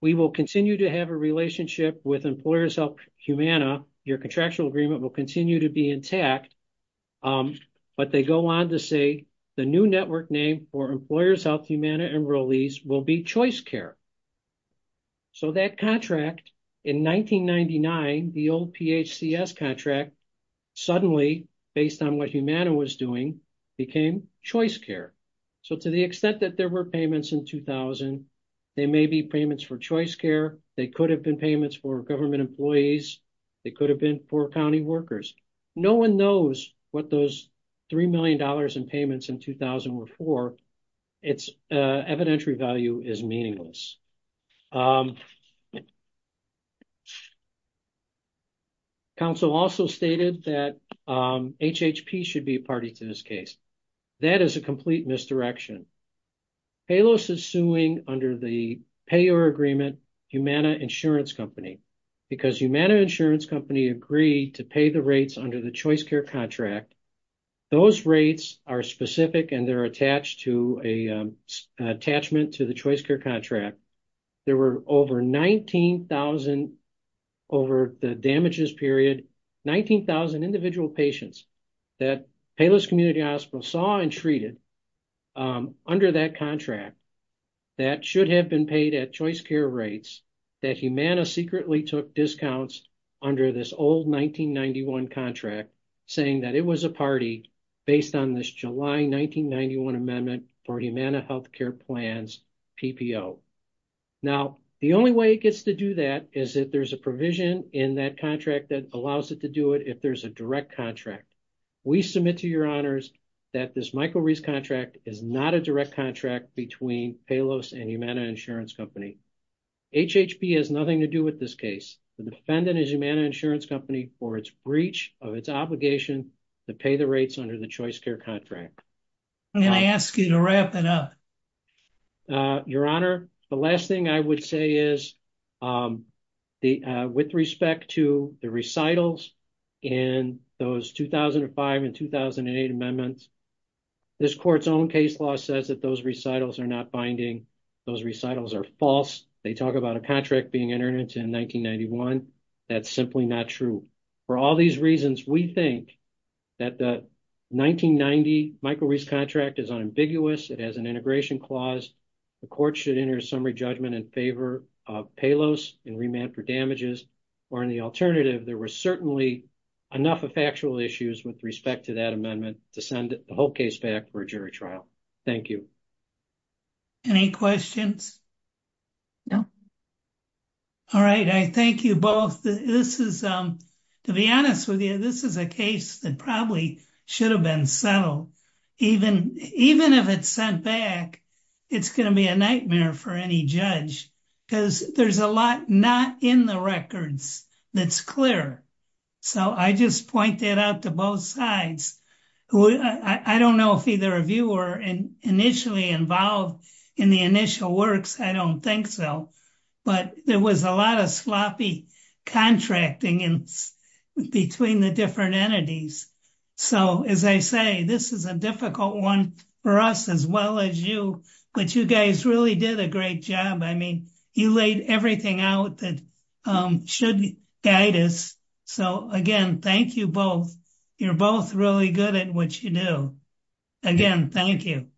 we will continue to have a relationship with Employers Health Humana. Your contractual agreement will continue to be intact. But they go on to say the new network name for Employers Health Humana and Rolese will be Choice Care. So that contract in 1999, the old PHCS contract, suddenly based on what Humana was doing, became Choice Care. So to the extent that there were payments in 2000, they may be payments for Choice Care. They could have been payments for government employees. They could have been for county workers. No one knows what those $3 million in payments in 2000 were for. Its evidentiary value is meaningless. Counsel also stated that HHP should be a party to this case. That is a complete misdirection. Payless is suing under the payer agreement, Humana Insurance Company, because Humana Insurance Company agreed to pay the rates under the Choice Care contract. Those rates are specific and they're attached to a attachment to the Choice Care contract. There were over 19,000 over the damages period, 19,000 individual patients that Payless Community Hospital saw and treated under that contract that should have been paid at Choice Care rates that Humana secretly took discounts under this old 1991 contract, saying that it was a party based on this July 1991 amendment for Humana Health Care plans PPO. Now, the only way it gets to do that is if there's a provision in that contract that allows it to do it if there's a direct contract. We submit to your honors that this Michael Reese contract is not a direct contract between Payless and Humana Insurance Company. HHP has nothing to do with this case. The defendant is Humana Insurance Company for its breach of its obligation to pay the rates under the Choice Care contract. Can I ask you to wrap it up? Your honor, the last thing I would say is with respect to the recitals and those 2005 and 2008 amendments, this court's own case law says that those recitals are not binding. Those recitals are false. They talk about a contract being entered into in 1991. That's simply not true. For all these reasons, we think that the 1990 Michael Reese contract is unambiguous. It has an integration clause. The court should enter a summary judgment in favor of Payless in remand for damages or in the alternative. There were certainly enough factual issues with respect to that amendment to send the whole case back for a jury trial. Thank you. Any questions? No. All right. I thank you both. To be honest with you, this is a case that probably should have been settled. Even if it's sent back, it's going to be a nightmare for any judge because there's a lot not in the records that's clear. I just point that out to both sides. I don't know if either of you were initially involved in the initial works. I don't think so. There was a lot of sloppy contracting in between the different entities. As I say, this is a difficult one for us as well as you, but you guys really did a great job. You laid everything out that should guide us. Again, thank you both. You're both really good at what you do. Again, thank you.